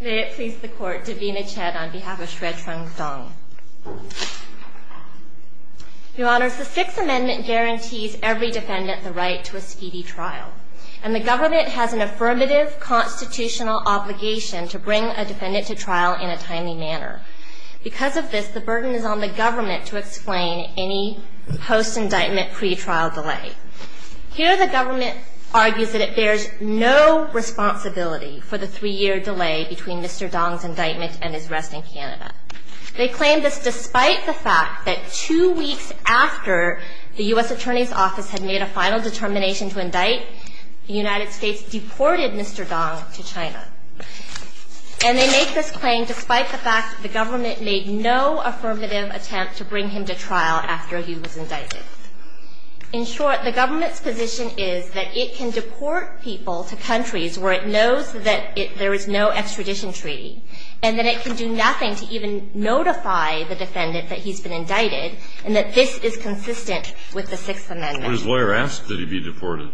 May it please the court, Davina Chet on behalf of Xue Chong Dong. Your honors, the Sixth Amendment guarantees every defendant the right to a speedy trial, and the government has an affirmative constitutional obligation to bring a defendant to trial in a timely manner. Because of this, the burden is on the government to explain any post-indictment pretrial delay. Here, the government argues that it bears no responsibility for the three-year delay between Mr. Dong's indictment and his arrest in Canada. They claim this despite the fact that two weeks after the U.S. Attorney's Office had made a final determination to indict, the United States deported Mr. Dong to China. And they make this claim despite the fact that the government made no affirmative attempt to bring him to trial after he was indicted. In short, the government's position is that it can deport people to countries where it knows that there is no extradition treaty, and that it can do nothing to even notify the defendant that he's been indicted, and that this is consistent with the Sixth Amendment. But his lawyer asked that he be deported,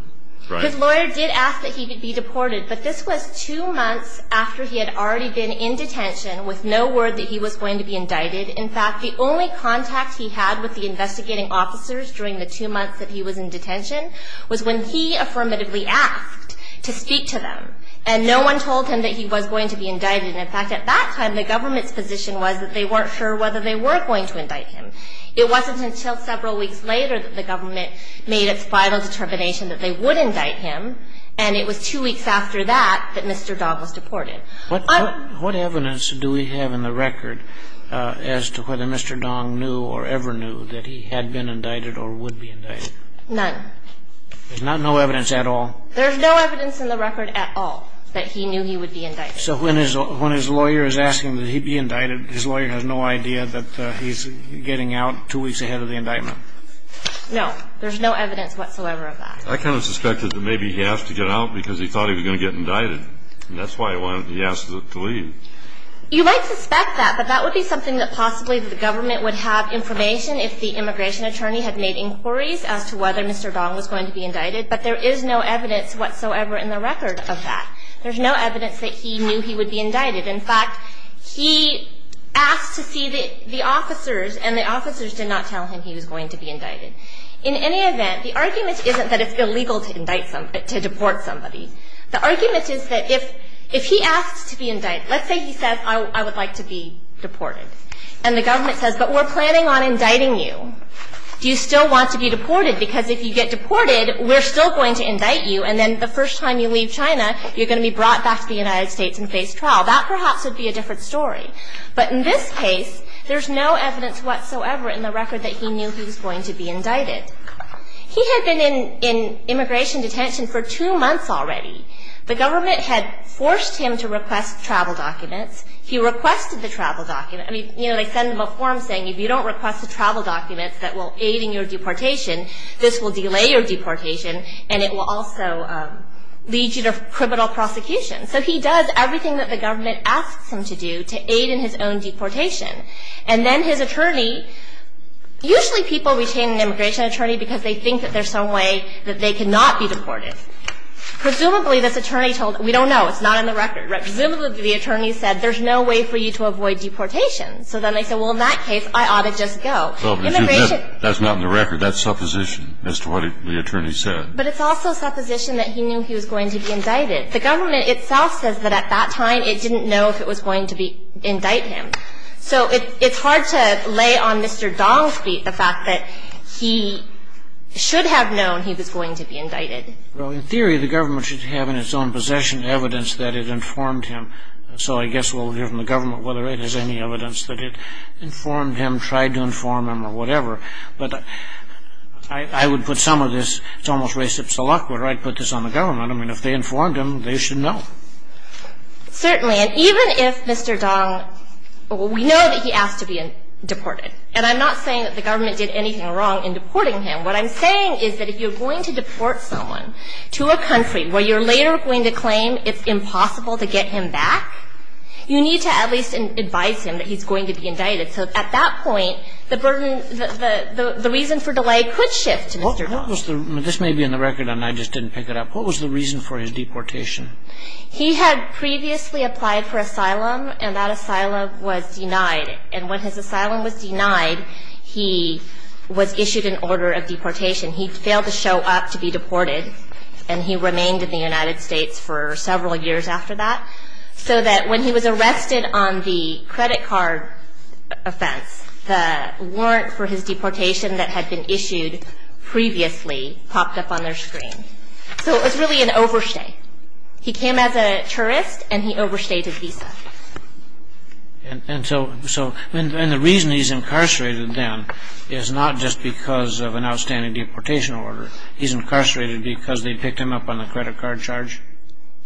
right? His lawyer did ask that he be deported, but this was two months after he had already been in detention with no word that he was going to be indicted. In fact, the only contact he had with the investigating officers during the two months that he was in detention was when he affirmatively asked to speak to them, and no one told him that he was going to be indicted. In fact, at that time, the government's position was that they weren't sure whether they were going to indict him. It wasn't until several weeks later that the government made its final determination that they would indict him, and it was two weeks after that that Mr. Dong was deported. What evidence do we have in the record as to whether Mr. Dong knew or ever knew that he had been indicted or would be indicted? None. There's no evidence at all? There's no evidence in the record at all that he knew he would be indicted. So when his lawyer is asking that he be indicted, his lawyer has no idea that he's getting out two weeks ahead of the indictment? No. There's no evidence whatsoever of that. I kind of suspected that maybe he asked to get out because he thought he was going to get indicted, and that's why he asked to leave. You might suspect that, but that would be something that possibly the government would have information if the immigration attorney had made inquiries as to whether Mr. Dong was going to be indicted, but there is no evidence whatsoever in the record of that. There's no evidence that he knew he would be indicted. In fact, he asked to see the officers, and the officers did not tell him he was going to be indicted. In any event, the argument isn't that it's illegal to deport somebody. The argument is that if he asks to be indicted, let's say he says, I would like to be deported, and the government says, but we're planning on indicting you. Do you still want to be deported? Because if you get deported, we're still going to indict you, and then the first time you leave China, you're going to be brought back to the United States and face trial. That perhaps would be a different story. But in this case, there's no evidence whatsoever in the record that he knew he was going to be indicted. He had been in immigration detention for two months already. The government had forced him to request travel documents. He requested the travel documents. I mean, you know, they send him a form saying if you don't request the travel documents that will aid in your deportation, this will delay your deportation, and it will also lead you to criminal prosecution. So he does everything that the government asks him to do to aid in his own deportation. And then his attorney, usually people retain an immigration attorney because they think that there's some way that they cannot be deported. Presumably, this attorney told him, we don't know, it's not in the record. Presumably, the attorney said, there's no way for you to avoid deportation. So then they said, well, in that case, I ought to just go. That's not in the record. That's supposition as to what the attorney said. But it's also supposition that he knew he was going to be indicted. The government itself says that at that time it didn't know if it was going to indict him. So it's hard to lay on Mr. Dong's feet the fact that he should have known he was going to be indicted. Well, in theory, the government should have in its own possession evidence that it informed him. So I guess we'll hear from the government whether it has any evidence that it informed him, tried to inform him, or whatever. But I would put some of this, it's almost racist to lock word, right, put this on the government. I mean, if they informed him, they should know. Certainly. And even if Mr. Dong, we know that he asked to be deported. And I'm not saying that the government did anything wrong in deporting him. What I'm saying is that if you're going to deport someone to a country where you're later going to claim it's impossible to get him back, you need to at least advise him that he's going to be indicted. So at that point, the burden, the reason for delay could shift to Mr. Dong. This may be in the record and I just didn't pick it up. What was the reason for his deportation? He had previously applied for asylum and that asylum was denied. And when his asylum was denied, he was issued an order of deportation. He failed to show up to be deported and he remained in the United States for several years after that. So that when he was arrested on the credit card offense, the warrant for his deportation that had been issued previously popped up on their screen. So it was really an overstay. He came as a tourist and he overstayed his visa. And the reason he's incarcerated then is not just because of an outstanding deportation order. He's incarcerated because they picked him up on the credit card charge?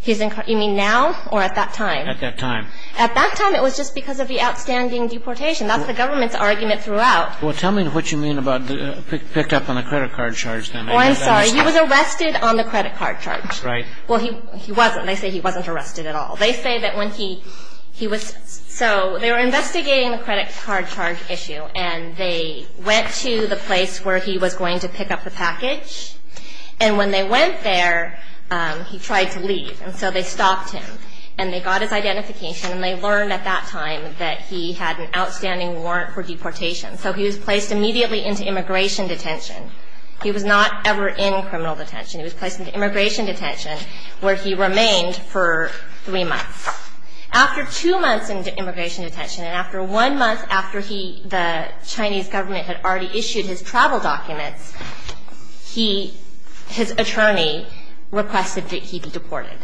You mean now or at that time? At that time. At that time, it was just because of the outstanding deportation. That's the government's argument throughout. Well, tell me what you mean about picked up on the credit card charge then. Well, I'm sorry. He was arrested on the credit card charge. Right. Well, he wasn't. They say he wasn't arrested at all. They say that when he was so they were investigating the credit card charge issue and they went to the place where he was going to pick up the package. And when they went there, he tried to leave. And so they stopped him. And they got his identification and they learned at that time that he had an outstanding warrant for deportation. So he was placed immediately into immigration detention. He was not ever in criminal detention. He was placed into immigration detention where he remained for three months. After two months in immigration detention and after one month after he, the Chinese government had already issued his travel documents, his attorney requested that he be deported.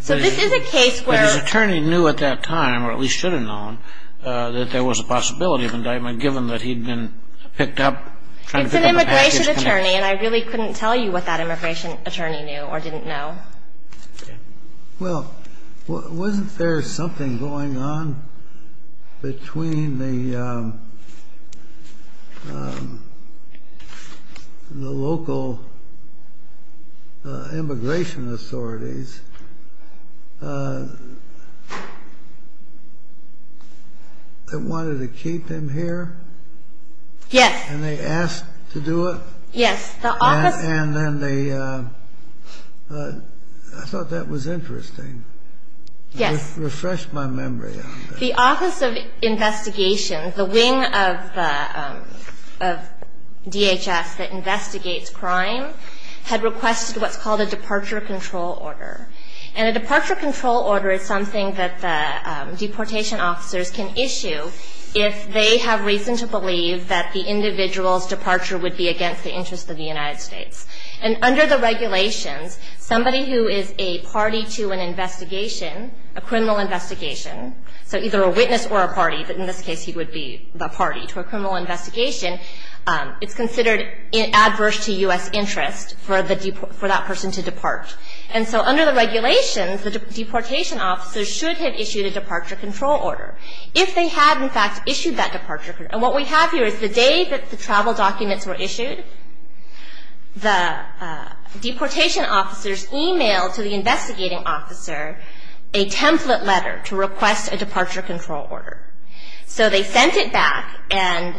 So this is a case where. But his attorney knew at that time, or at least should have known, that there was a possibility of indictment given that he'd been picked up, It's an immigration attorney, and I really couldn't tell you what that immigration attorney knew or didn't know. Well, wasn't there something going on between the local immigration authorities that wanted to keep him here? Yes. And they asked to do it? Yes. And then they, I thought that was interesting. Yes. Refreshed my memory on that. The Office of Investigation, the wing of DHS that investigates crime, had requested what's called a departure control order. And a departure control order is something that the deportation officers can issue if they have reason to believe that the individual's departure would be against the interests of the United States. And under the regulations, somebody who is a party to an investigation, a criminal investigation, so either a witness or a party, but in this case he would be the party to a criminal investigation, it's considered adverse to U.S. interest for that person to depart. And so under the regulations, the deportation officers should have issued a departure control order. If they had, in fact, issued that departure control order. And what we have here is the day that the travel documents were issued, the deportation officers emailed to the investigating officer a template letter to request a departure control order. So they sent it back, and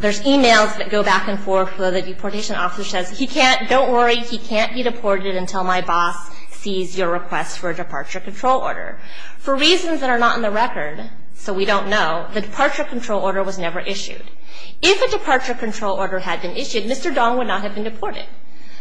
there's emails that go back and forth. The deportation officer says, don't worry, he can't be deported until my boss sees your request for a departure control order. For reasons that are not in the record, so we don't know, the departure control order was never issued. If a departure control order had been issued, Mr. Dong would not have been deported.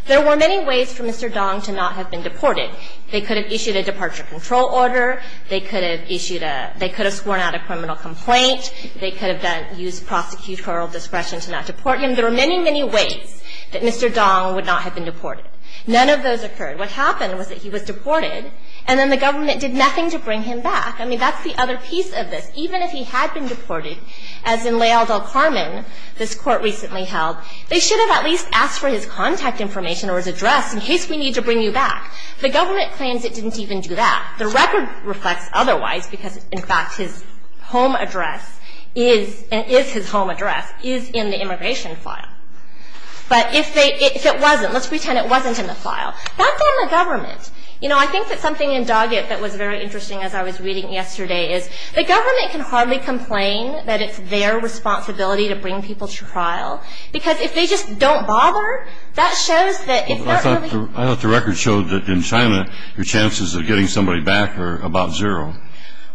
There were many ways for Mr. Dong to not have been deported. They could have issued a departure control order, they could have sworn out a criminal complaint, they could have used prosecutorial discretion to not deport him. There were many, many ways that Mr. Dong would not have been deported. None of those occurred. What happened was that he was deported, and then the government did nothing to bring him back. I mean, that's the other piece of this. Even if he had been deported, as in Lael del Carmen, this court recently held, they should have at least asked for his contact information or his address in case we need to bring you back. The government claims it didn't even do that. The record reflects otherwise, because, in fact, his home address is, and is his home address, is in the immigration file. But if they, if it wasn't, let's pretend it wasn't in the file. That's on the government. You know, I think that something in Doggett that was very interesting, as I was reading yesterday, is the government can hardly complain that it's their responsibility to bring people to trial, because if they just don't bother, that shows that if they're really going to do it. I thought the record showed that in China, your chances of getting somebody back are about zero.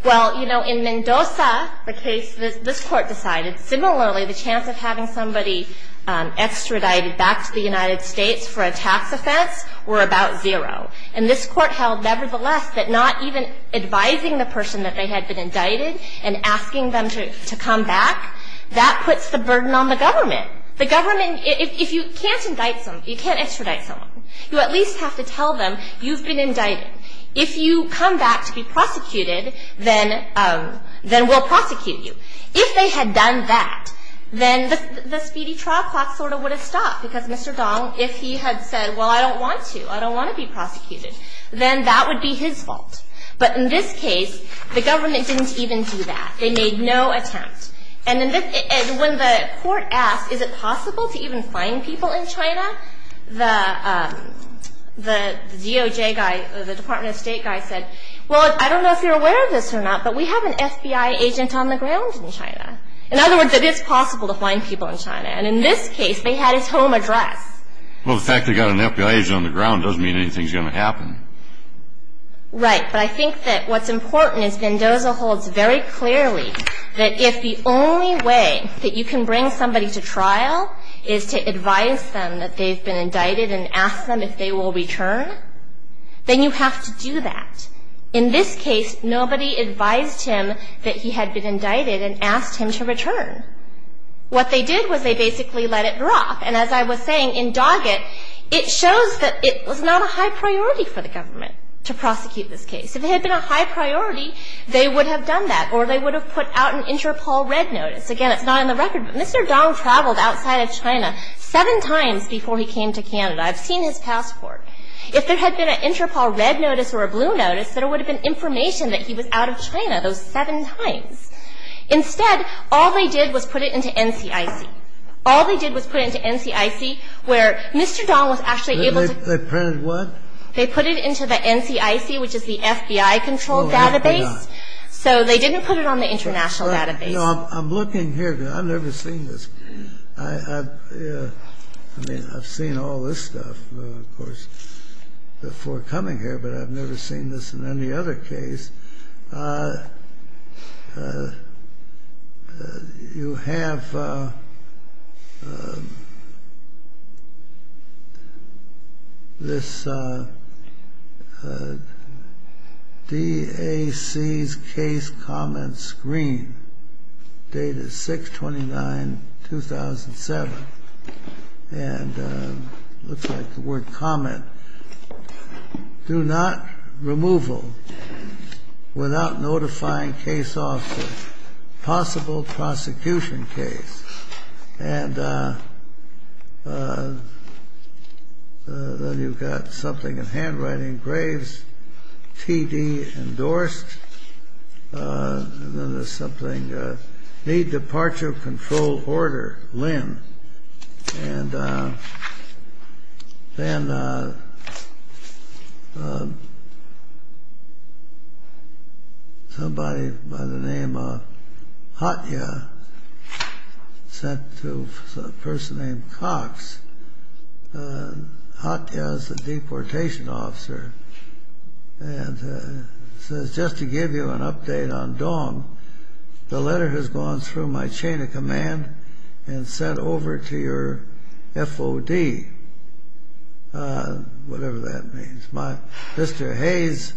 Well, you know, in Mendoza, the case this Court decided, similarly the chance of having somebody extradited back to the United States for a tax offense were about zero. And this Court held, nevertheless, that not even advising the person that they had been indicted and asking them to come back, that puts the burden on the government. The government, if you can't indict someone, you can't extradite someone, you at least have to tell them you've been indicted. If you come back to be prosecuted, then we'll prosecute you. If they had done that, then the speedy trial clock sort of would have stopped, because Mr. Dong, if he had said, well, I don't want to, I don't want to be prosecuted, then that would be his fault. But in this case, the government didn't even do that. They made no attempt. And when the Court asked, is it possible to even find people in China, the DOJ guy, the Department of State guy said, well, I don't know if you're aware of this or not, but we have an FBI agent on the ground in China. In other words, it is possible to find people in China. And in this case, they had his home address. Well, the fact they've got an FBI agent on the ground doesn't mean anything's going to happen. Right. But I think that what's important is Vendoza holds very clearly that if the only way that you can bring somebody to trial is to advise them that they've been indicted and ask them if they will return, then you have to do that. In this case, nobody advised him that he had been indicted and asked him to return. What they did was they basically let it drop. And as I was saying, in Doggett, it shows that it was not a high priority for the government to prosecute this case. If it had been a high priority, they would have done that, or they would have put out an Interpol red notice. Again, it's not on the record, but Mr. Dong traveled outside of China seven times before he came to Canada. I've seen his passport. If there had been an Interpol red notice or a blue notice, there would have been information that he was out of China those seven times. Instead, all they did was put it into NCIC. All they did was put it into NCIC, where Mr. Dong was actually able to They printed what? They put it into the NCIC, which is the FBI-controlled database. No, they did not. So they didn't put it on the international database. I'm looking here, because I've never seen this. I mean, I've seen all this stuff, of course, before coming here, but I've never seen this in any other case. You have this DAC's case comment screen, dated 6-29-2007, and it looks like the word comment. Do not removal without notifying case officer. Possible prosecution case. And then you've got something in handwriting. Graves, T.D. endorsed. And then there's something. Need departure of control order, Lynn. And then somebody by the name of Hatya sent to a person named Cox. Hatya is the deportation officer. And says, just to give you an update on Dong, the letter has gone through my chain of command and sent over to your F.O.D., whatever that means. Mr. Hayes'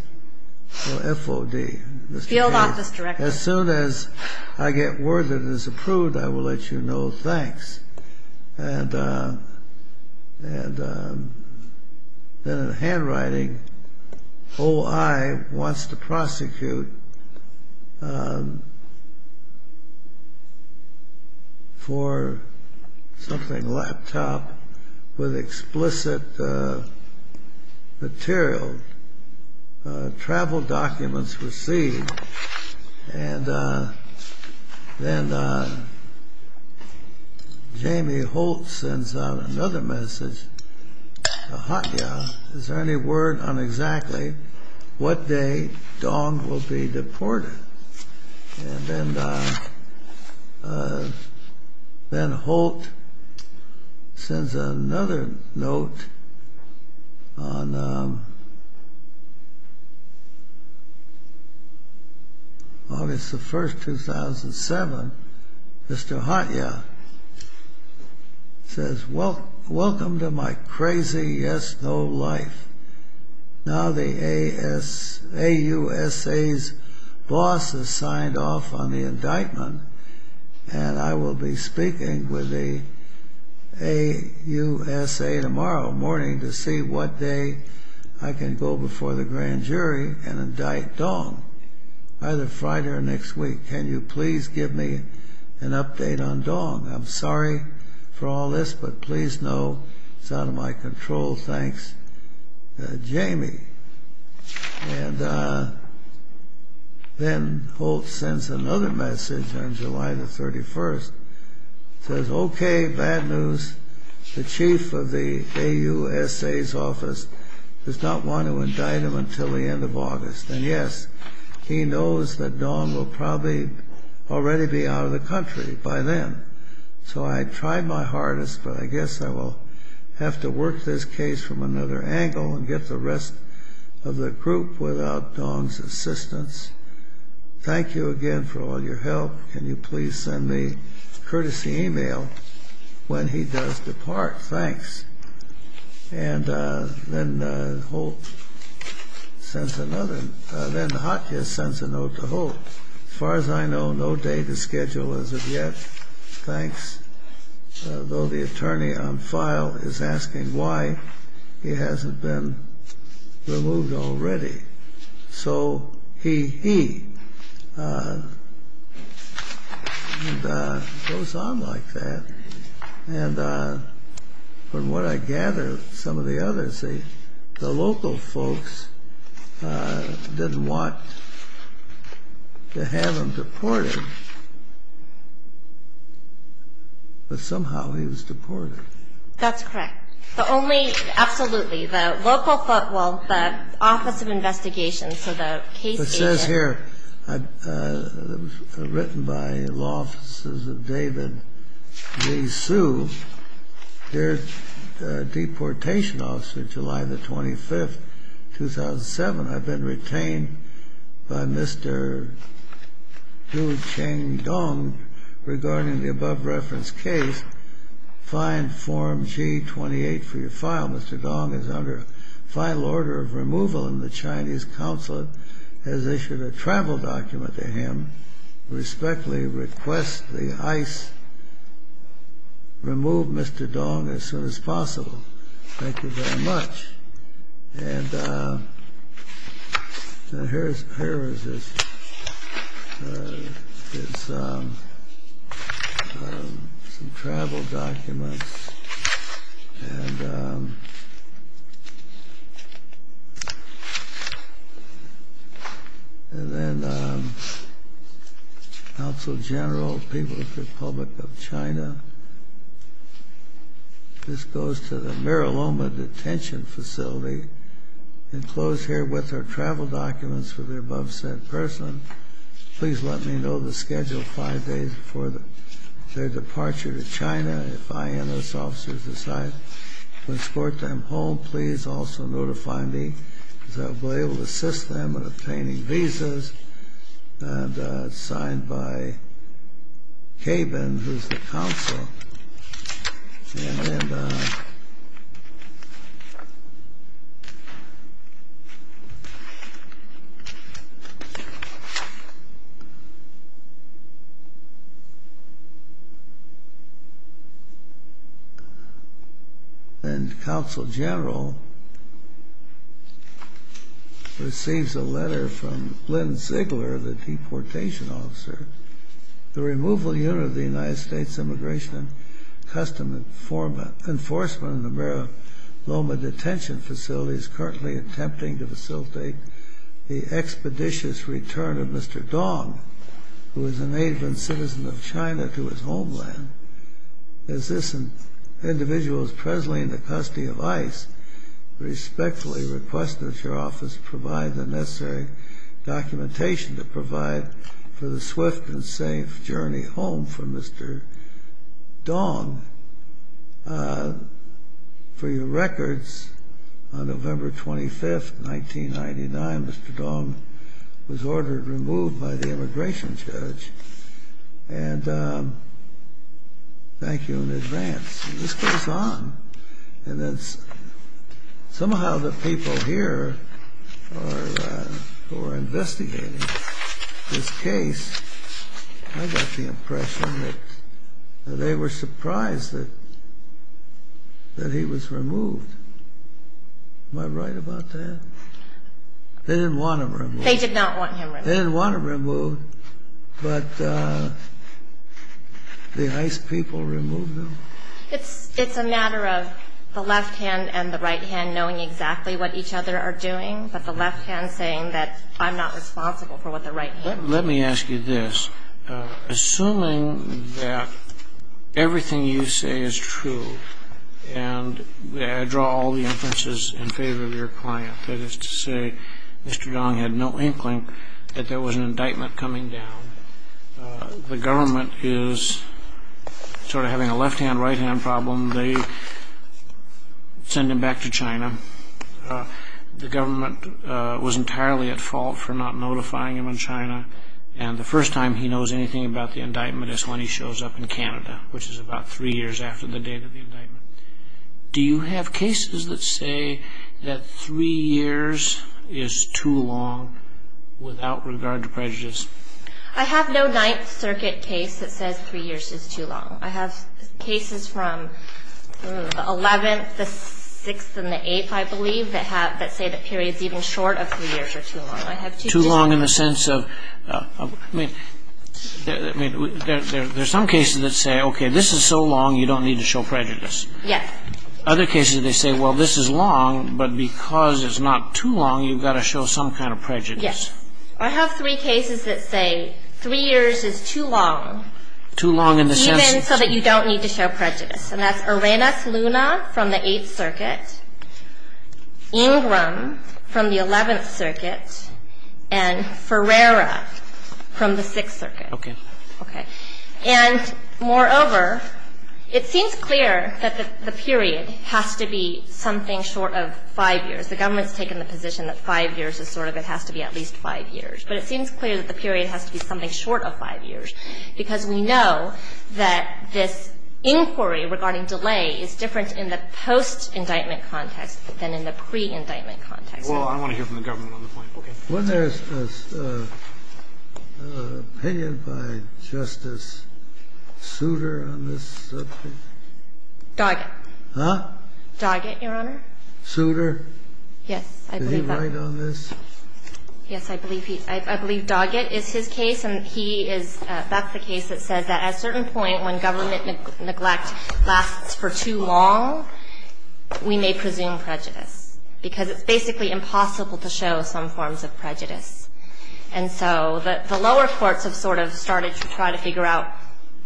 F.O.D. Field Office Director. As soon as I get word that it is approved, I will let you know. Thanks. And then in handwriting, O.I. wants to prosecute for something laptop with explicit material. Travel documents received. And then Jamie Holt sends out another message to Hatya. Is there any word on exactly what day Dong will be deported? And then Holt sends another note on August the 1st, 2007. Mr. Hatya says, welcome to my crazy yes-no life. Now the A.U.S.A.'s boss has signed off on the indictment. And I will be speaking with the A.U.S.A. tomorrow morning to see what day I can go before the grand jury and indict Dong. Either Friday or next week. Can you please give me an update on Dong? I'm sorry for all this, but please know it's out of my control. Thanks, Jamie. And then Holt sends another message on July the 31st. Says, OK, bad news. The chief of the A.U.S.A.'s office does not want to indict him until the end of August. And yes, he knows that Dong will probably already be out of the country by then. So I tried my hardest, but I guess I will have to work this case from another angle and get the rest of the group without Dong's assistance. Thank you again for all your help. Can you please send me a courtesy e-mail when he does depart? Thanks. And then Holt sends another. Then Hakia sends a note to Holt. Far as I know, no day to schedule as of yet. Thanks. Though the attorney on file is asking why he hasn't been removed already. So, he, he. Goes on like that. And from what I gather, some of the others say the local folks didn't want to have him deported. But somehow he was deported. That's correct. The only, absolutely, the local, well, the Office of Investigation, so the case agent. Here, written by Law Offices of David Lee Hsu, their deportation officer, July the 25th, 2007. I've been retained by Mr. Du Cheng Dong regarding the above-referenced case. Find Form G28 for your file. Mr. Dong is under final order of removal and the Chinese Consulate has issued a travel document to him. Respectfully request the ICE remove Mr. Dong as soon as possible. Thank you very much. And, here is, here is his, his, some travel documents. And, and then, Consul General, People's Republic of China. This goes to the Mira Loma Detention Facility. Enclosed here with are travel documents for the above-said person. Please let me know the schedule five days before their departure to China. If INS officers decide to escort them home, please also notify me. So I'll be able to assist them in obtaining visas. And it's signed by Kaben, who's the Consul. And then, And Consul General receives a letter from Lynn Ziegler, the deportation officer. The removal unit of the United States Immigration and Customs Enforcement in the Mira Loma Detention Facility is currently attempting to facilitate the expeditious return of Mr. Dong, who is a native and citizen of China, to his homeland. As this individual is presently in the custody of ICE, respectfully request that your office provide the necessary documentation to provide for the swift and safe journey home for Mr. Dong. For your records, on November 25, 1999, Mr. Dong was ordered removed by the immigration judge. And thank you in advance. And this goes on. Somehow the people here who are investigating this case, I got the impression that they were surprised that he was removed. Am I right about that? They didn't want him removed. They did not want him removed. They didn't want him removed, but the ICE people removed him. It's a matter of the left hand and the right hand knowing exactly what each other are doing, but the left hand saying that I'm not responsible for what the right hand is. Let me ask you this. Assuming that everything you say is true, and I draw all the inferences in favor of your client, that is to say, Mr. Dong had no inkling that there was an indictment coming down. The government is sort of having a left hand, right hand problem. They send him back to China. The government was entirely at fault for not notifying him in China, and the first time he knows anything about the indictment is when he shows up in Canada, which is about three years after the date of the indictment. Do you have cases that say that three years is too long without regard to prejudice? I have no Ninth Circuit case that says three years is too long. I have cases from the 11th, the 6th, and the 8th, I believe, that say that periods even short of three years are too long. Too long in the sense of, I mean, there are some cases that say, okay, this is so long you don't need to show prejudice. Yes. Other cases, they say, well, this is long, but because it's not too long, you've got to show some kind of prejudice. Yes. I have three cases that say three years is too long. Too long in the sense. Even so that you don't need to show prejudice, and that's Arenas Luna from the 8th Circuit, Ingram from the 11th Circuit, and Ferreira from the 6th Circuit. Okay. And moreover, it seems clear that the period has to be something short of five years. The government's taken the position that five years is sort of it has to be at least five years. But it seems clear that the period has to be something short of five years, because we know that this inquiry regarding delay is different in the post-indictment context than in the pre-indictment context. Well, I want to hear from the government on the point. Okay. Wasn't there an opinion by Justice Souter on this subject? Doggett. Huh? Doggett, Your Honor. Souter? Yes. Did he write on this? Yes, I believe he did. I believe Doggett is his case, and he is the case that says that at a certain point when government neglect lasts for too long, we may presume prejudice, because it's basically impossible to show some forms of prejudice. And so the lower courts have sort of started to try to figure out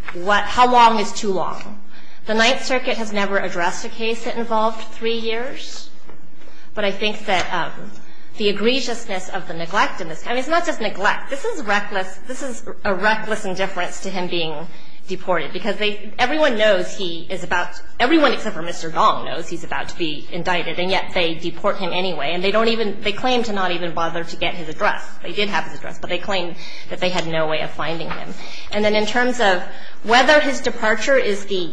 how long is too long. The Ninth Circuit has never addressed a case that involved three years, but I think that the egregiousness of the neglect in this case, I mean, it's not just neglect. This is reckless. This is a reckless indifference to him being deported, because everyone knows he is about to be indicted, and yet they deport him anyway. And they claim to not even bother to get his address. They did have his address, but they claim that they had no way of finding him. And then in terms of whether his departure is the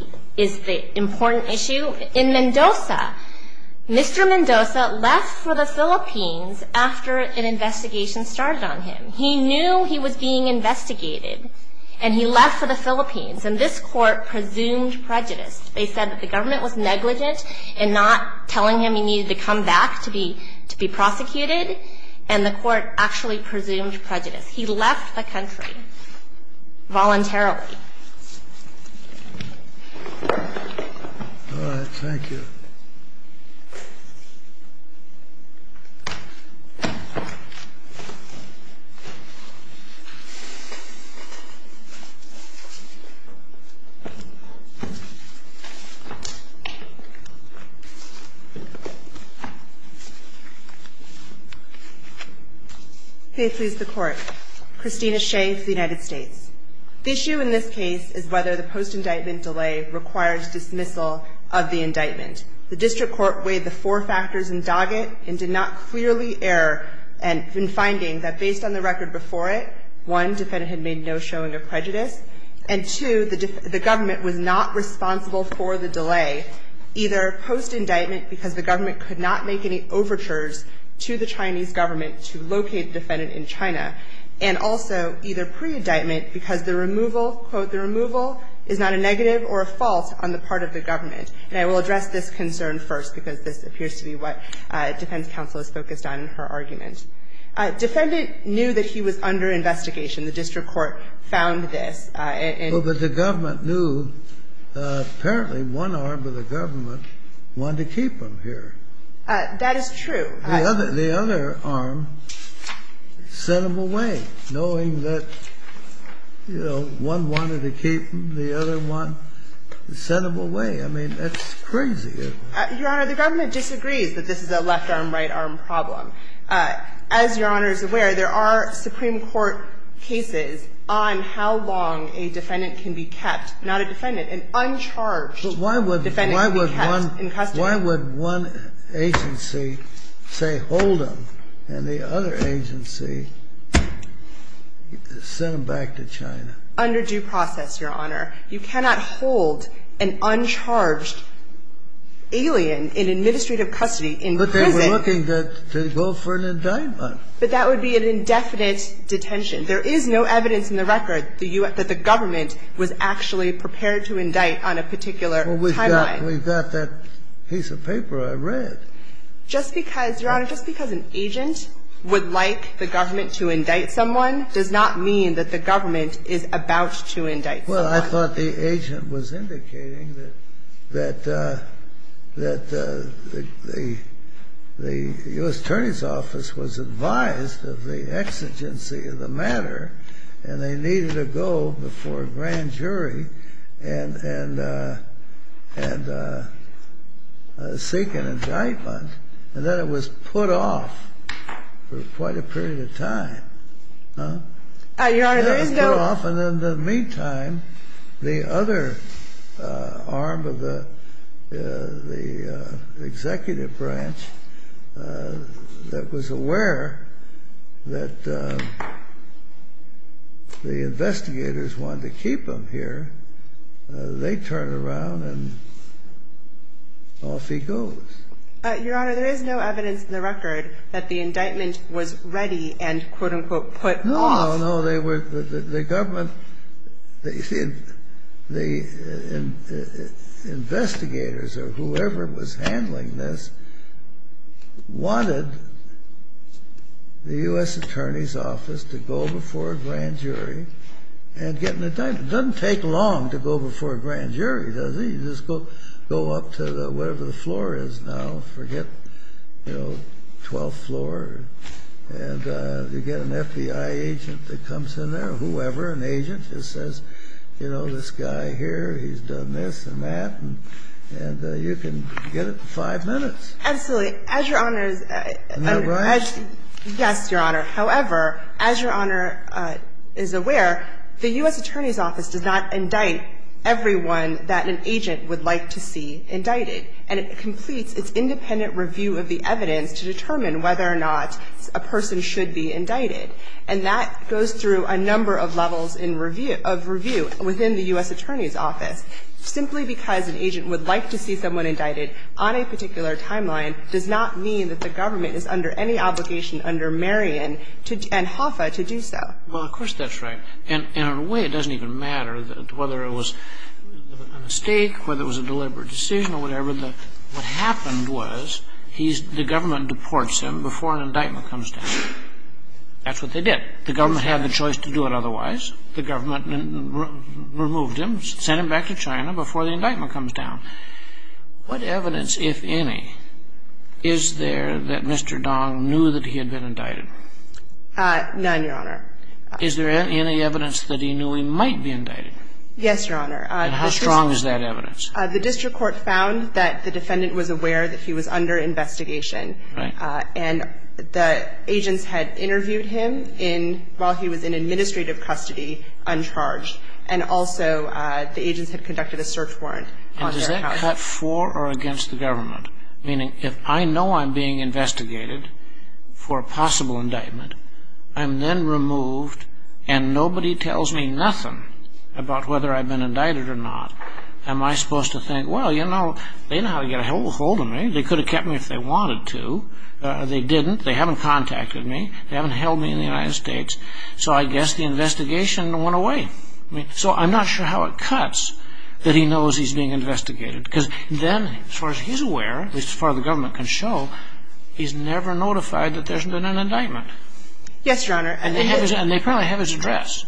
important issue, in Mendoza, Mr. Mendoza left for the Philippines after an investigation started on him. He knew he was being investigated, and he left for the Philippines, and this court presumed prejudice. They said that the government was negligent in not telling him he needed to come back to be prosecuted, and the court actually presumed prejudice. He left the country voluntarily. All right. Thank you. Ms. Shea. The issue in this case is whether the post-indictment delay requires dismissal of the indictment. The district court weighed the four factors in docket and did not clearly err in finding that based on the record before it, one, defendant had made no showing of prejudice, and two, the government was not responsible for the delay, either post-indictment because the government could not make any overtures to the pre-indictment because the removal, quote, the removal is not a negative or a fault on the part of the government. And I will address this concern first because this appears to be what defense counsel is focused on in her argument. Defendant knew that he was under investigation. The district court found this. But the government knew. Apparently, one arm of the government wanted to keep him here. That is true. The other arm sent him away, knowing that, you know, one wanted to keep the other one, sent him away. I mean, that's crazy. Your Honor, the government disagrees that this is a left-arm, right-arm problem. As Your Honor is aware, there are Supreme Court cases on how long a defendant can be kept, not a defendant, an uncharged defendant can be kept in custody. Why would one agency say hold him and the other agency send him back to China? Under due process, Your Honor. You cannot hold an uncharged alien in administrative custody in prison. But they were looking to go for an indictment. But that would be an indefinite detention. There is no evidence in the record that the government was actually prepared to indict on a particular timeline. Well, we've got that piece of paper I read. Just because, Your Honor, just because an agent would like the government to indict someone does not mean that the government is about to indict someone. Well, I thought the agent was indicating that the U.S. Attorney's Office was advised of the exigency of the matter, and they needed to go before a grand jury, and seek an indictment. And then it was put off for quite a period of time. Your Honor, there is no... It was put off, and in the meantime, the other arm of the executive branch that was aware that the investigators wanted to keep him here, they turned around and off he goes. Your Honor, there is no evidence in the record that the indictment was ready and, quote, unquote, put off. No, no. The investigators or whoever was handling this wanted the U.S. Attorney's Office to go before a grand jury and get an indictment. It doesn't take long to go before a grand jury, does it? You just go up to whatever the floor is now. Forget, you know, 12th floor. And you get an FBI agent that comes in there or whoever, an agent, and says, you know, this guy here, he's done this and that, and you can get it in five minutes. Absolutely. As Your Honor is... Isn't that right? Yes, Your Honor. However, as Your Honor is aware, the U.S. Attorney's Office does not indict everyone that an agent would like to see indicted. And it completes its independent review of the evidence to determine whether or not a person should be indicted. And that goes through a number of levels of review within the U.S. Attorney's Office. Simply because an agent would like to see someone indicted on a particular timeline does not mean that the government is under any obligation under Marion and HOFA to do so. Well, of course that's right. And in a way it doesn't even matter whether it was a mistake, whether it was a deliberate decision or whatever. What happened was the government deports him before an indictment comes down. That's what they did. The government had the choice to do it otherwise. The government removed him, sent him back to China before the indictment comes down. What evidence, if any, is there that Mr. Dong knew that he had been indicted? None, Your Honor. Is there any evidence that he knew he might be indicted? Yes, Your Honor. And how strong is that evidence? The district court found that the defendant was aware that he was under investigation. Right. And the agents had interviewed him while he was in administrative custody, uncharged. And also the agents had conducted a search warrant on their account. And does that cut for or against the government? Meaning if I know I'm being investigated for a possible indictment, I'm then removed and nobody tells me nothing about whether I've been indicted or not, am I supposed to think, well, you know, they know how to get a hold of me. They could have kept me if they wanted to. They didn't. They haven't contacted me. They haven't held me in the United States. So I guess the investigation went away. So I'm not sure how it cuts that he knows he's being investigated. Because then, as far as he's aware, at least as far as the government can show, he's never notified that there's been an indictment. Yes, Your Honor. And they probably have his address.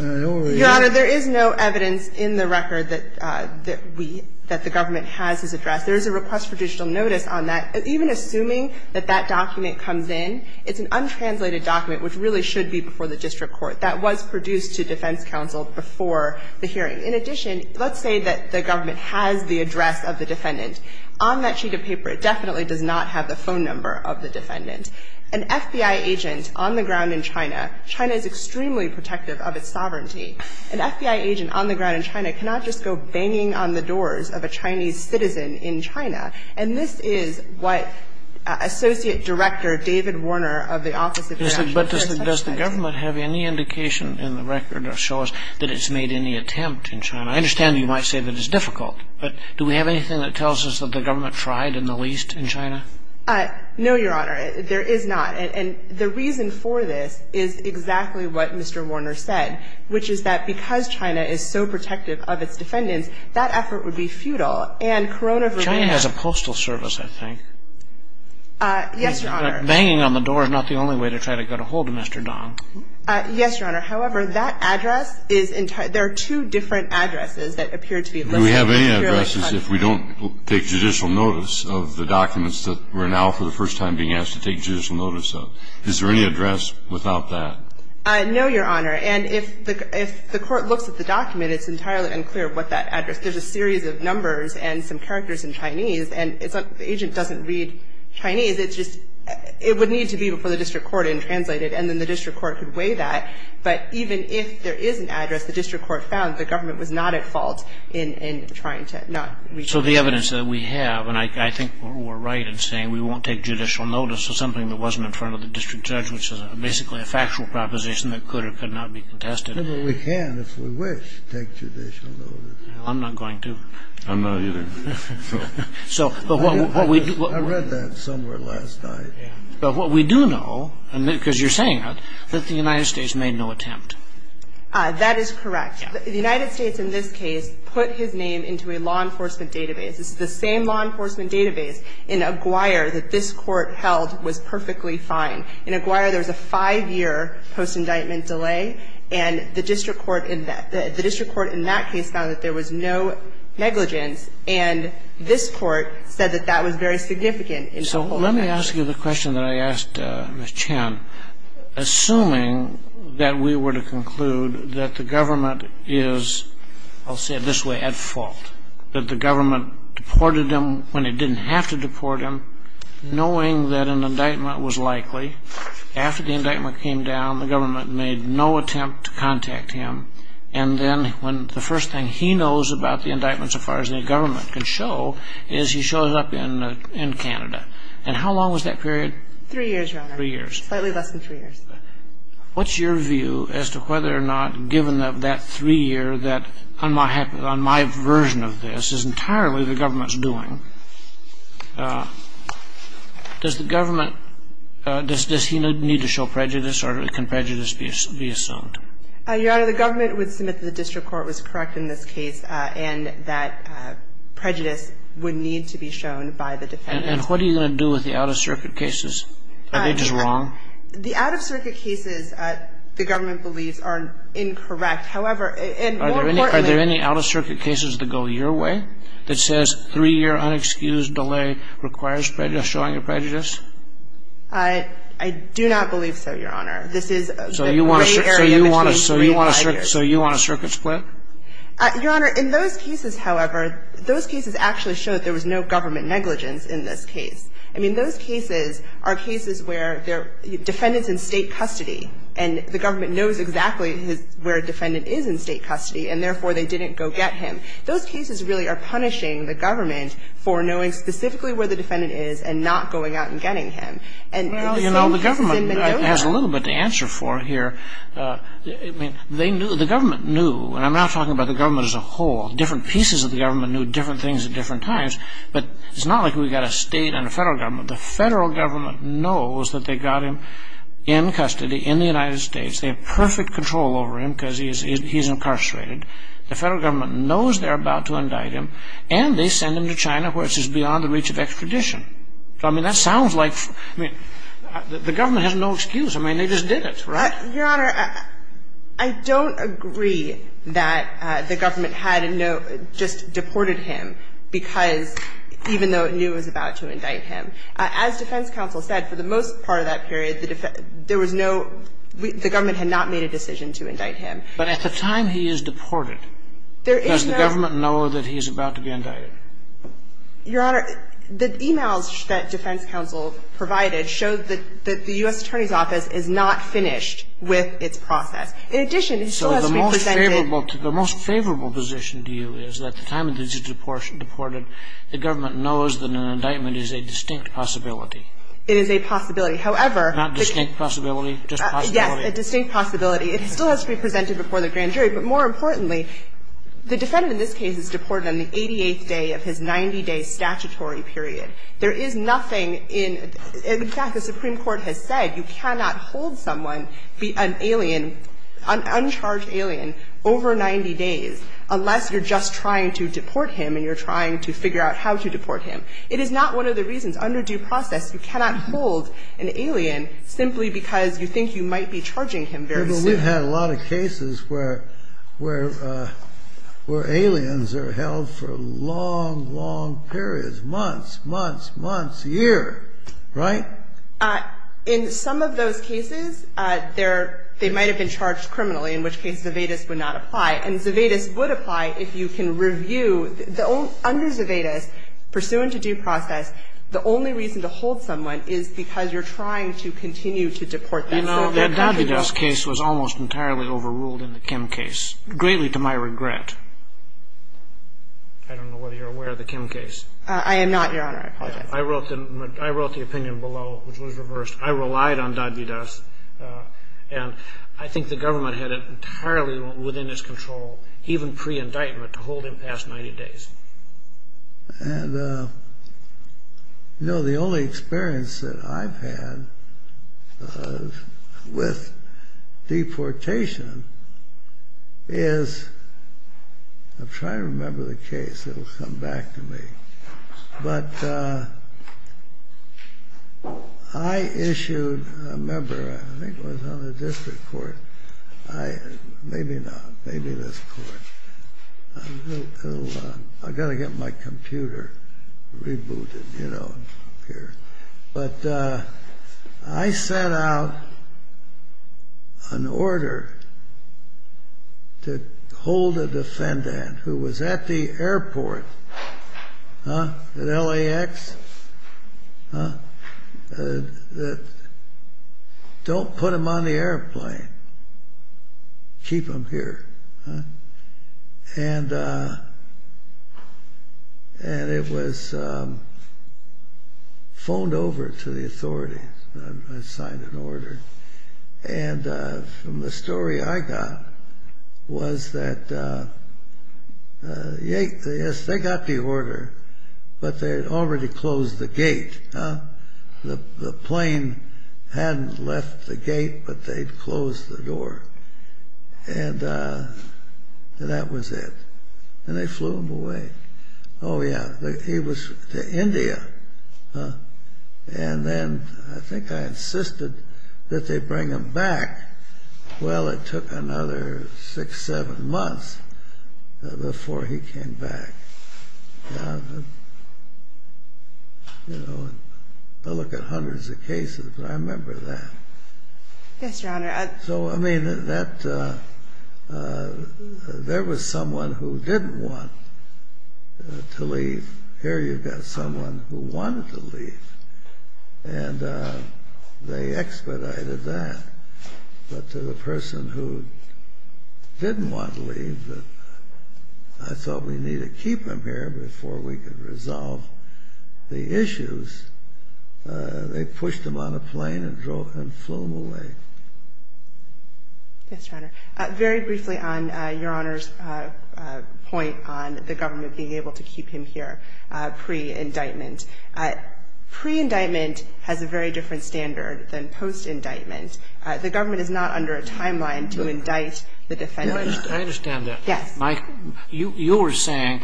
Your Honor, there is no evidence in the record that we – that the government has his address. There is a request for digital notice on that. Even assuming that that document comes in, it's an untranslated document, which really should be before the district court. That was produced to defense counsel before the hearing. In addition, let's say that the government has the address of the defendant. On that sheet of paper, it definitely does not have the phone number of the defendant. An FBI agent on the ground in China, China is extremely protective of its sovereignty. An FBI agent on the ground in China cannot just go banging on the doors of a Chinese citizen in China. And this is what Associate Director David Warner of the Office of International Security said. But does the government have any indication in the record or show us that it's made any attempt in China? I understand you might say that it's difficult. But do we have anything that tells us that the government tried in the least in China? No, Your Honor. There is not. And the reason for this is exactly what Mr. Warner said, which is that because China is so protective of its defendants, that effort would be futile. And Corona Verdea ---- China has a postal service, I think. Yes, Your Honor. Banging on the door is not the only way to try to get a hold of Mr. Dong. Yes, Your Honor. However, that address is entirely ---- there are two different addresses that appear to be listed. Do we have any addresses if we don't take judicial notice of the documents that we're now for the first time being asked to take judicial notice of? Is there any address without that? No, Your Honor. And if the court looks at the document, it's entirely unclear what that address is. There's a series of numbers and some characters in Chinese. And the agent doesn't read Chinese. It's just ---- it would need to be before the district court and translate it, and then the district court could weigh that. But even if there is an address, the district court found the government was not at fault in trying to not ---- So the evidence that we have, and I think we're right in saying we won't take judicial notice of something that wasn't in front of the district judge, which is basically a factual proposition that could or could not be contested. But we can, if we wish, take judicial notice. I'm not going to. I'm not either. So what we do ---- I read that somewhere last night. But what we do know, because you're saying it, that the United States made no attempt. That is correct. The United States, in this case, put his name into a law enforcement database. This is the same law enforcement database in Aguirre that this Court held was perfectly fine. In Aguirre, there was a five-year post-indictment delay. And the district court in that case found that there was no negligence. And this Court said that that was very significant in a whole. So let me ask you the question that I asked Ms. Chan. Assuming that we were to conclude that the government is, I'll say it this way, at fault, that the government deported him when it didn't have to deport him, knowing that an indictment was likely, after the indictment came down, the government made no attempt to contact him. And then when the first thing he knows about the indictment, so far as the government can show, is he shows up in Canada. And how long was that period? Three years, Your Honor. Three years. Slightly less than three years. What's your view as to whether or not, given that three year, that on my version of this is entirely the government's doing, does the government, does he need to show prejudice or can prejudice be assumed? Your Honor, the government would submit that the district court was correct in this case and that prejudice would need to be shown by the defendant. And what are you going to do with the out-of-circuit cases? Are they just wrong? The out-of-circuit cases, the government believes, are incorrect. However, and more importantly – Are there any out-of-circuit cases that go your way, that says three-year unexcused delay requires showing of prejudice? I do not believe so, Your Honor. This is the gray area between three and five years. So you want a circuit split? Your Honor, in those cases, however, those cases actually show that there was no government negligence in this case. I mean, those cases are cases where the defendant's in state custody and the government knows exactly where a defendant is in state custody and, therefore, they didn't go get him. Those cases really are punishing the government for knowing specifically where the defendant is and not going out and getting him. Well, you know, the government has a little bit to answer for here. I mean, they knew, the government knew, and I'm not talking about the government as a whole. Different pieces of the government knew different things at different times. But it's not like we've got a state and a federal government. The federal government knows that they got him in custody in the United States. They have perfect control over him because he's incarcerated. The federal government knows they're about to indict him, and they send him to China, which is beyond the reach of extradition. I mean, that sounds like, I mean, the government has no excuse. I mean, they just did it, right? Your Honor, I don't agree that the government had just deported him because even though it knew it was about to indict him. As defense counsel said, for the most part of that period, there was no, the government had not made a decision to indict him. But at the time he is deported, does the government know that he is about to be indicted? Your Honor, the e-mails that defense counsel provided showed that the U.S. Attorney's Office is not finished with its process. In addition, it still has to be presented. The most favorable position to you is that at the time that he's deported, the government knows that an indictment is a distinct possibility. It is a possibility. However. Not distinct possibility, just possibility. Yes, a distinct possibility. It still has to be presented before the grand jury. But more importantly, the defendant in this case is deported on the 88th day of his 90-day statutory period. There is nothing in, in fact, the Supreme Court has said you cannot hold someone, be an alien, an uncharged alien, over 90 days unless you're just trying to deport him and you're trying to figure out how to deport him. It is not one of the reasons, under due process, you cannot hold an alien simply because you think you might be charging him very soon. But we've had a lot of cases where, where, where aliens are held for long, long periods, months, months, months, years. Right? In some of those cases, they're, they might have been charged criminally, in which case Zevedes would not apply. And Zevedes would apply if you can review, under Zevedes, pursuant to due process, the only reason to hold someone is because you're trying to continue to deport them. You know, that Davides case was almost entirely overruled in the Kim case, greatly to my regret. I don't know whether you're aware of the Kim case. I am not, Your Honor. I wrote the, I wrote the opinion below. It was reversed. I relied on Davides. And I think the government had it entirely within its control, even pre-indictment, to hold him past 90 days. And, you know, the only experience that I've had with deportation is, I'm trying to remember the case. It'll come back to me. But I issued a member, I think it was on the district court. Maybe not. Maybe this court. I've got to get my computer rebooted, you know, here. But I sent out an order to hold a defendant who was at the airport at LAX. Don't put him on the airplane. Keep him here. And it was phoned over to the authorities. I signed an order. And from the story I got was that, yes, they got the order, but they had already closed the gate. The plane hadn't left the gate, but they'd closed the door. And that was it. And they flew him away. Oh, yeah. He was to India. And then I think I insisted that they bring him back. Well, it took another six, seven months before he came back. I look at hundreds of cases, but I remember that. Yes, Your Honor. So, I mean, there was someone who didn't want to leave. Here you've got someone who wanted to leave. And they expedited that. But to the person who didn't want to leave, I thought we need to keep him here before we can resolve the issues. They pushed him on a plane and flew him away. Yes, Your Honor. Very briefly on Your Honor's point on the government being able to keep him here pre-indictment. Pre-indictment has a very different standard than post-indictment. The government is not under a timeline to indict the defendant. I understand that. Yes. You were saying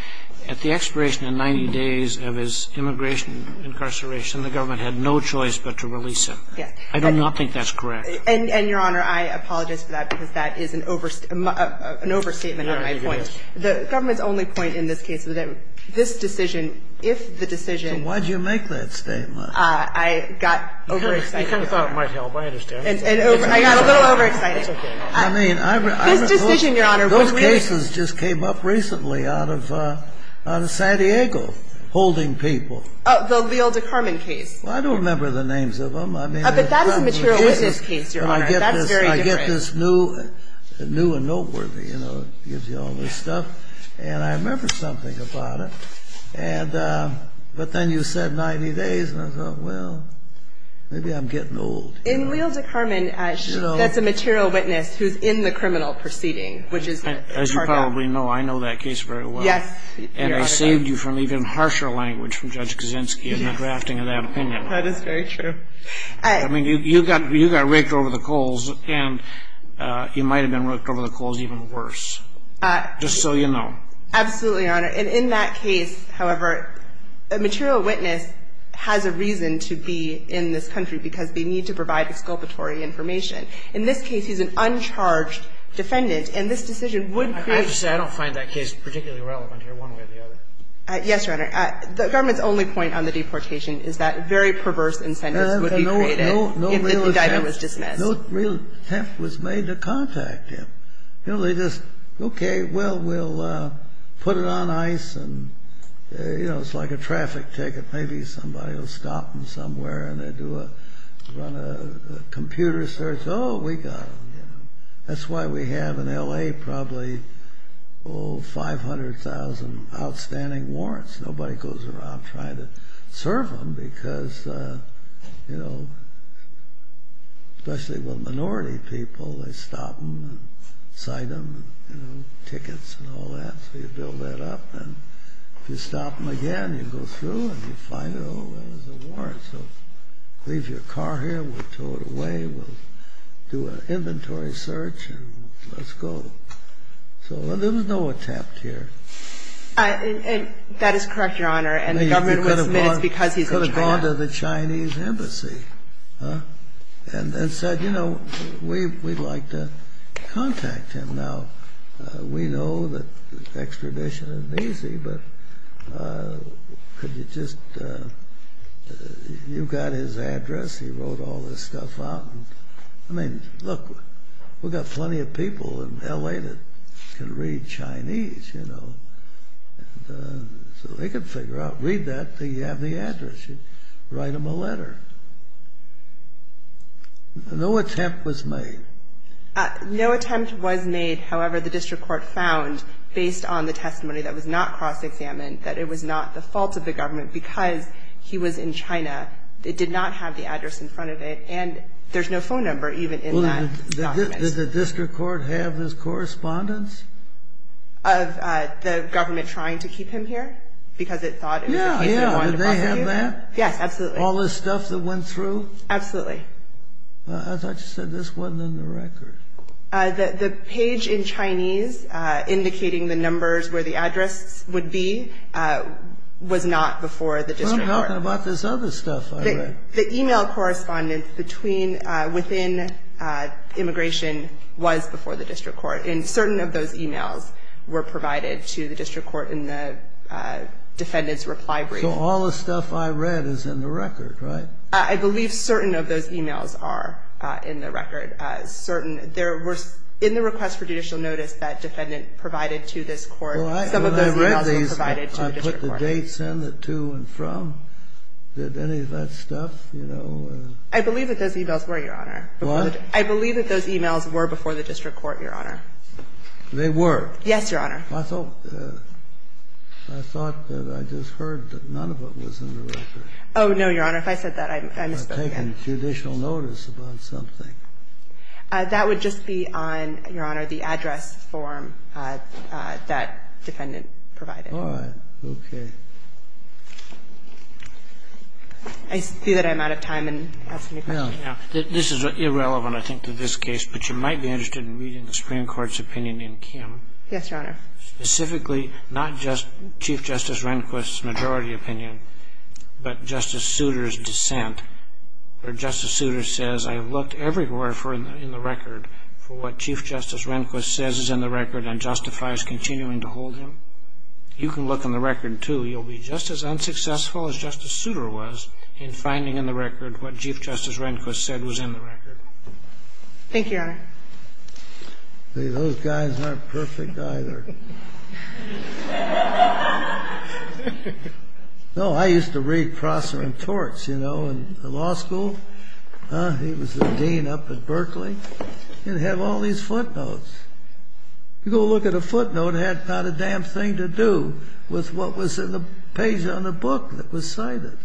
at the expiration in 90 days of his immigration incarceration, the government had no choice but to release him. Yes. I do not think that's correct. And, Your Honor, I apologize for that because that is an overstatement on my point. The government's only point in this case was that this decision, if the decision So why did you make that statement? I got overexcited. You kind of thought it might help. I understand. I got a little overexcited. It's okay. This decision, Your Honor. Those cases just came up recently out of San Diego holding people. The Leo DeCarmen case. I don't remember the names of them. But that is a material witness case, Your Honor. That's very different. I get this new and noteworthy. It gives you all this stuff, and I remember something about it. But then you said 90 days, and I thought, well, maybe I'm getting old. In Leo DeCarmen, that's a material witness who's in the criminal proceeding, which is the target. As you probably know, I know that case very well. Yes. And I saved you from even harsher language from Judge Kaczynski in the drafting of that opinion. That is very true. I mean, you got raked over the coals, and you might have been raked over the coals even worse, just so you know. Absolutely, Your Honor. And in that case, however, a material witness has a reason to be in this country, because they need to provide exculpatory information. In this case, he's an uncharged defendant, and this decision would create ---- I have to say, I don't find that case particularly relevant here, one way or the other. Yes, Your Honor. The government's only point on the deportation is that very perverse incentives would be created if the indictment was dismissed. No real theft was made to contact him. You know, they just, okay, well, we'll put it on ice, and, you know, it's like a traffic ticket. Maybe somebody will stop him somewhere, and they do a, run a computer search. Oh, we got him, you know. That's why we have in L.A. probably, oh, 500,000 outstanding warrants. Nobody goes around trying to serve them because, you know, especially with minority people, they stop them and cite them, you know, tickets and all that. So you build that up, and if you stop them again, you go through, and you find, oh, there's a warrant. So leave your car here. We'll tow it away. We'll do an inventory search, and let's go. So there was no attempt here. That is correct, Your Honor. And the government would submit it's because he's a traitor. He went to the Chinese embassy and said, you know, we'd like to contact him. Now, we know that extradition isn't easy, but could you just, you've got his address. He wrote all this stuff out. I mean, look, we've got plenty of people in L.A. that can read Chinese, you know. So they can figure out, read that. They have the address. You write them a letter. No attempt was made. No attempt was made. However, the district court found, based on the testimony that was not cross-examined, that it was not the fault of the government because he was in China. It did not have the address in front of it, and there's no phone number even in that document. Did the district court have his correspondence? Of the government trying to keep him here because it thought it was a case they wanted to prosecute him? Yeah, yeah. Did they have that? Yes, absolutely. All this stuff that went through? Absolutely. I thought you said this wasn't in the record. The page in Chinese indicating the numbers where the address would be was not before the district court. I'm talking about this other stuff I read. The e-mail correspondence within immigration was before the district court, and certain of those e-mails were provided to the district court in the defendant's reply brief. So all the stuff I read is in the record, right? I believe certain of those e-mails are in the record. In the request for judicial notice that defendant provided to this court, some of those e-mails were provided to the district court. Did they send it to and from? Did any of that stuff, you know? I believe that those e-mails were, Your Honor. What? I believe that those e-mails were before the district court, Your Honor. They were? Yes, Your Honor. I thought that I just heard that none of it was in the record. Oh, no, Your Honor. If I said that, I misspoke again. I've taken judicial notice about something. That would just be on, Your Honor, the address form that defendant provided. All right. Okay. I see that I'm out of time in asking you questions. No, no. This is irrelevant, I think, to this case, but you might be interested in reading the Supreme Court's opinion in Kim. Yes, Your Honor. Specifically, not just Chief Justice Rehnquist's majority opinion, but Justice Souter's dissent, where Justice Souter says, I have looked everywhere in the record for what Chief Justice Rehnquist says is in the record and justifies continuing to hold him. You can look in the record, too. You'll be just as unsuccessful as Justice Souter was in finding in the record what Chief Justice Rehnquist said was in the record. Thank you, Your Honor. Those guys aren't perfect, either. No, I used to read Prosser and Torch, you know, in law school. He was the dean up at Berkeley. And he had all these footnotes. You go look at a footnote, it had not a damn thing to do with what was in the page on the book that was cited.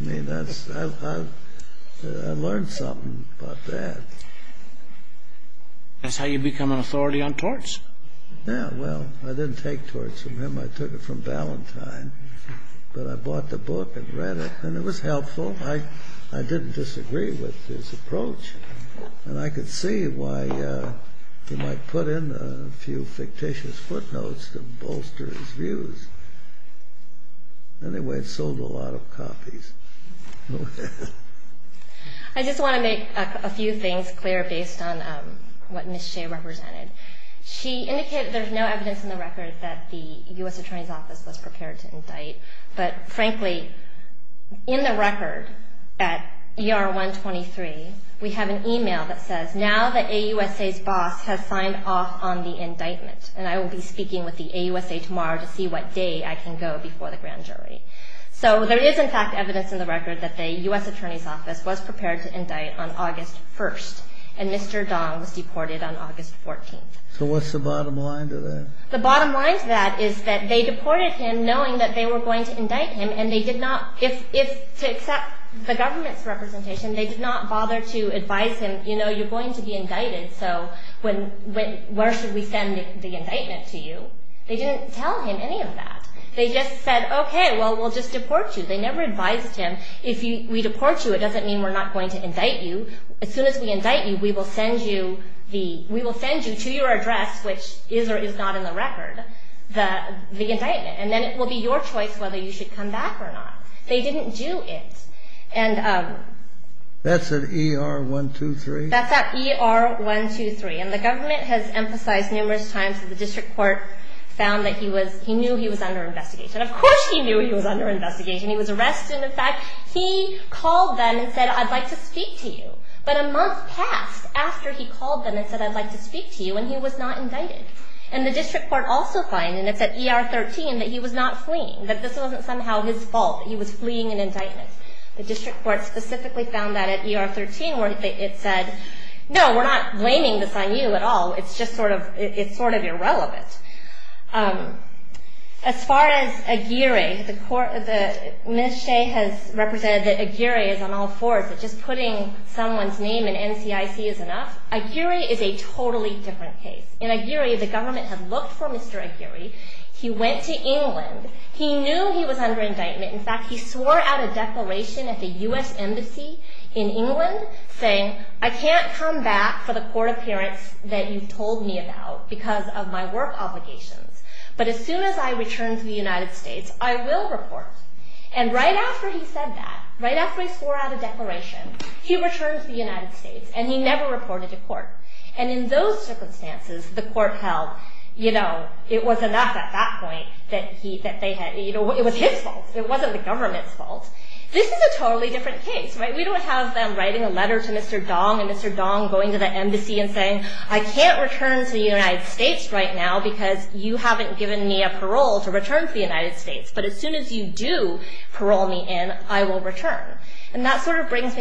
I mean, I learned something about that. That's how you become an authority on Torch. Yeah, well, I didn't take Torch from him. I took it from Ballantyne. But I bought the book and read it, and it was helpful. I didn't disagree with his approach. And I could see why he might put in a few fictitious footnotes to bolster his views. Anyway, it sold a lot of copies. I just want to make a few things clear based on what Ms. Shea represented. She indicated there's no evidence in the record that the U.S. Attorney's Office was prepared to indict. But, frankly, in the record at ER 123, we have an email that says, Now the AUSA's boss has signed off on the indictment. And I will be speaking with the AUSA tomorrow to see what day I can go before the grand jury. So there is, in fact, evidence in the record that the U.S. Attorney's Office was prepared to indict on August 1st. And Mr. Dong was deported on August 14th. So what's the bottom line to that? The bottom line to that is that they deported him knowing that they were going to indict him, and they did not, to accept the government's representation, they did not bother to advise him, you know, you're going to be indicted, so where should we send the indictment to you? They didn't tell him any of that. They just said, okay, well, we'll just deport you. They never advised him, if we deport you, it doesn't mean we're not going to indict you. As soon as we indict you, we will send you to your address, which is or is not in the record, the indictment, and then it will be your choice whether you should come back or not. They didn't do it. That's at ER-123? That's at ER-123, and the government has emphasized numerous times that the district court found that he knew he was under investigation. Of course he knew he was under investigation. He was arrested. In fact, he called them and said, I'd like to speak to you. But a month passed after he called them and said, I'd like to speak to you, and he was not indicted. And the district court also finds, and it's at ER-13, that he was not fleeing, that this wasn't somehow his fault, that he was fleeing an indictment. The district court specifically found that at ER-13 where it said, no, we're not blaming this on you at all. It's just sort of irrelevant. As far as Aguirre, the ministry has represented that Aguirre is on all fours, that just putting someone's name in NCIC is enough. Aguirre is a totally different case. In Aguirre, the government had looked for Mr. Aguirre. He went to England. He knew he was under indictment. In fact, he swore out a declaration at the US embassy in England saying, I can't come back for the court appearance that you told me about because of my work obligations. But as soon as I return to the United States, I will report. And right after he said that, right after he swore out a declaration, he returned to the United States, and he never reported to court. And in those circumstances, the court held it was enough at that point that it was his fault. It wasn't the government's fault. This is a totally different case. We don't have them writing a letter to Mr. Dong and Mr. Dong going to the embassy and saying, I can't return to the United States right now because you haven't given me a parole to return to the United States. But as soon as you do parole me in, I will return. And that sort of brings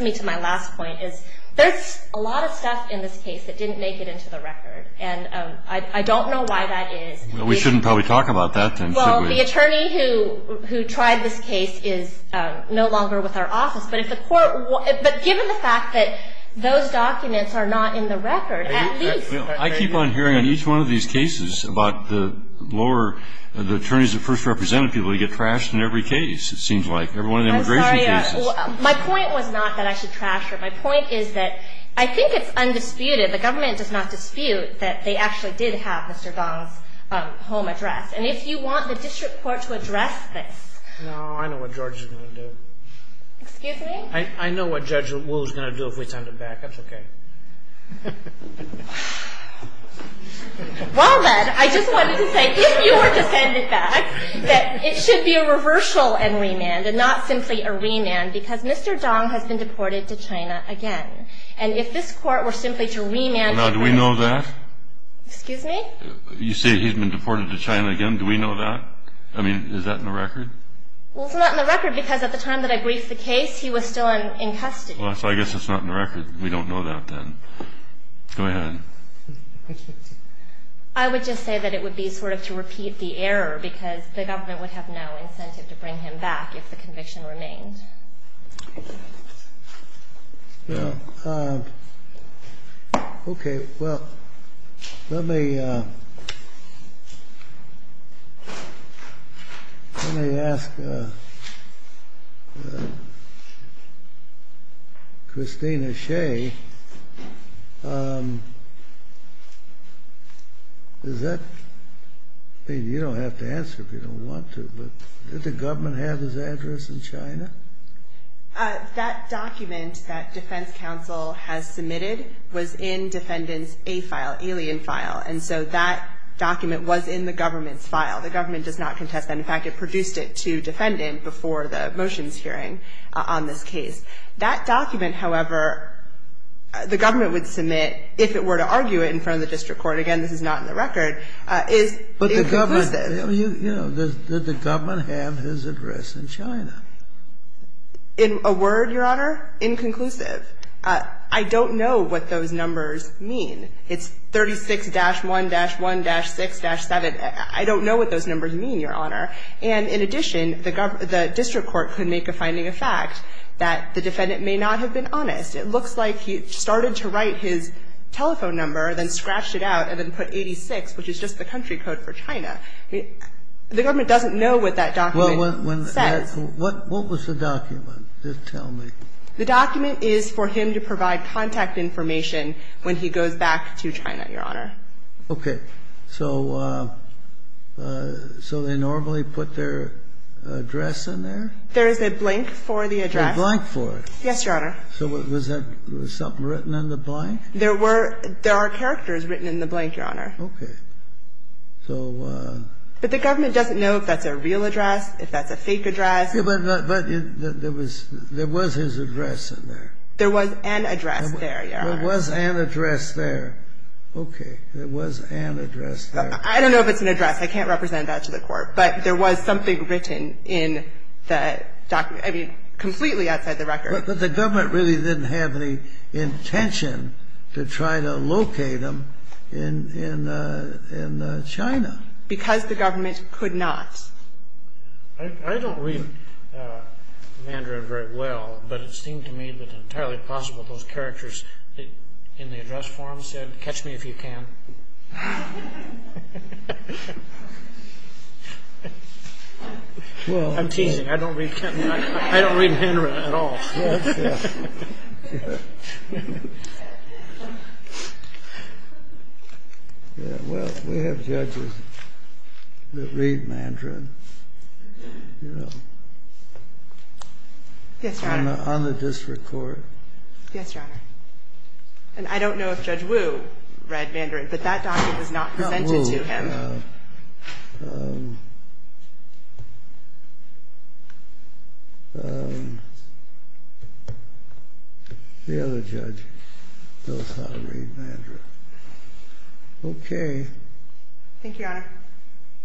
me to my last point, is there's a lot of stuff in this case that didn't make it into the record. And I don't know why that is. Well, we shouldn't probably talk about that then, should we? Well, the attorney who tried this case is no longer with our office. But given the fact that those documents are not in the record, at least. I keep on hearing on each one of these cases about the attorneys that first represented people who get trashed in every case, it seems like. Every one of the immigration cases. I'm sorry. My point was not that I should trash her. My point is that I think it's undisputed, the government does not dispute, that they actually did have Mr. Dong's home address. And if you want the district court to address this. No, I know what George is going to do. Excuse me? I know what Judge Wu is going to do if we send him back. That's okay. Well then, I just wanted to say, if you were to send it back, that it should be a reversal and remand, and not simply a remand. Because Mr. Dong has been deported to China again. And if this court were simply to remand. Now, do we know that? Excuse me? You say he's been deported to China again. Do we know that? I mean, is that in the record? Well, it's not in the record. Because at the time that I briefed the case, he was still in custody. Well, so I guess it's not in the record. We don't know that then. Go ahead. I would just say that it would be sort of to repeat the error. Because the government would have no incentive to bring him back if the conviction remained. Well, okay. Well, let me ask Christina Hsieh. Is that? I mean, you don't have to answer if you don't want to. But did the government have his address in China? That document that defense counsel has submitted was in defendant's A file, alien file. And so that document was in the government's file. The government does not contest that. In fact, it produced it to defendant before the motions hearing on this case. That document, however, the government would submit if it were to argue it in front of the district court. Again, this is not in the record. It's conclusive. Well, you know, did the government have his address in China? In a word, Your Honor, inconclusive. I don't know what those numbers mean. It's 36-1-1-6-7. I don't know what those numbers mean, Your Honor. And in addition, the district court could make a finding of fact that the defendant may not have been honest. It looks like he started to write his telephone number, then scratched it out and then put 86, which is just the country code for China. The government doesn't know what that document says. What was the document? Just tell me. The document is for him to provide contact information when he goes back to China, Your Honor. Okay. So they normally put their address in there? There is a blank for the address. A blank for it? Yes, Your Honor. So was something written in the blank? There are characters written in the blank, Your Honor. Okay. But the government doesn't know if that's a real address, if that's a fake address. But there was his address in there. There was an address there, Your Honor. There was an address there. Okay. There was an address there. I don't know if it's an address. I can't represent that to the court. But there was something written in the document. I mean, completely outside the record. But the government really didn't have any intention to try to locate him in China. Because the government could not. I don't read Mandarin very well, but it seemed to me that entirely possible those characters in the address form said, Catch me if you can. I'm teasing. I don't read Mandarin at all. Well, we have judges that read Mandarin. Yes, Your Honor. Yes, Your Honor. And I don't know if Judge Wu read Mandarin, but that document was not presented to him. No, Wu, no. The other judge does not read Mandarin. Thank you, Your Honor.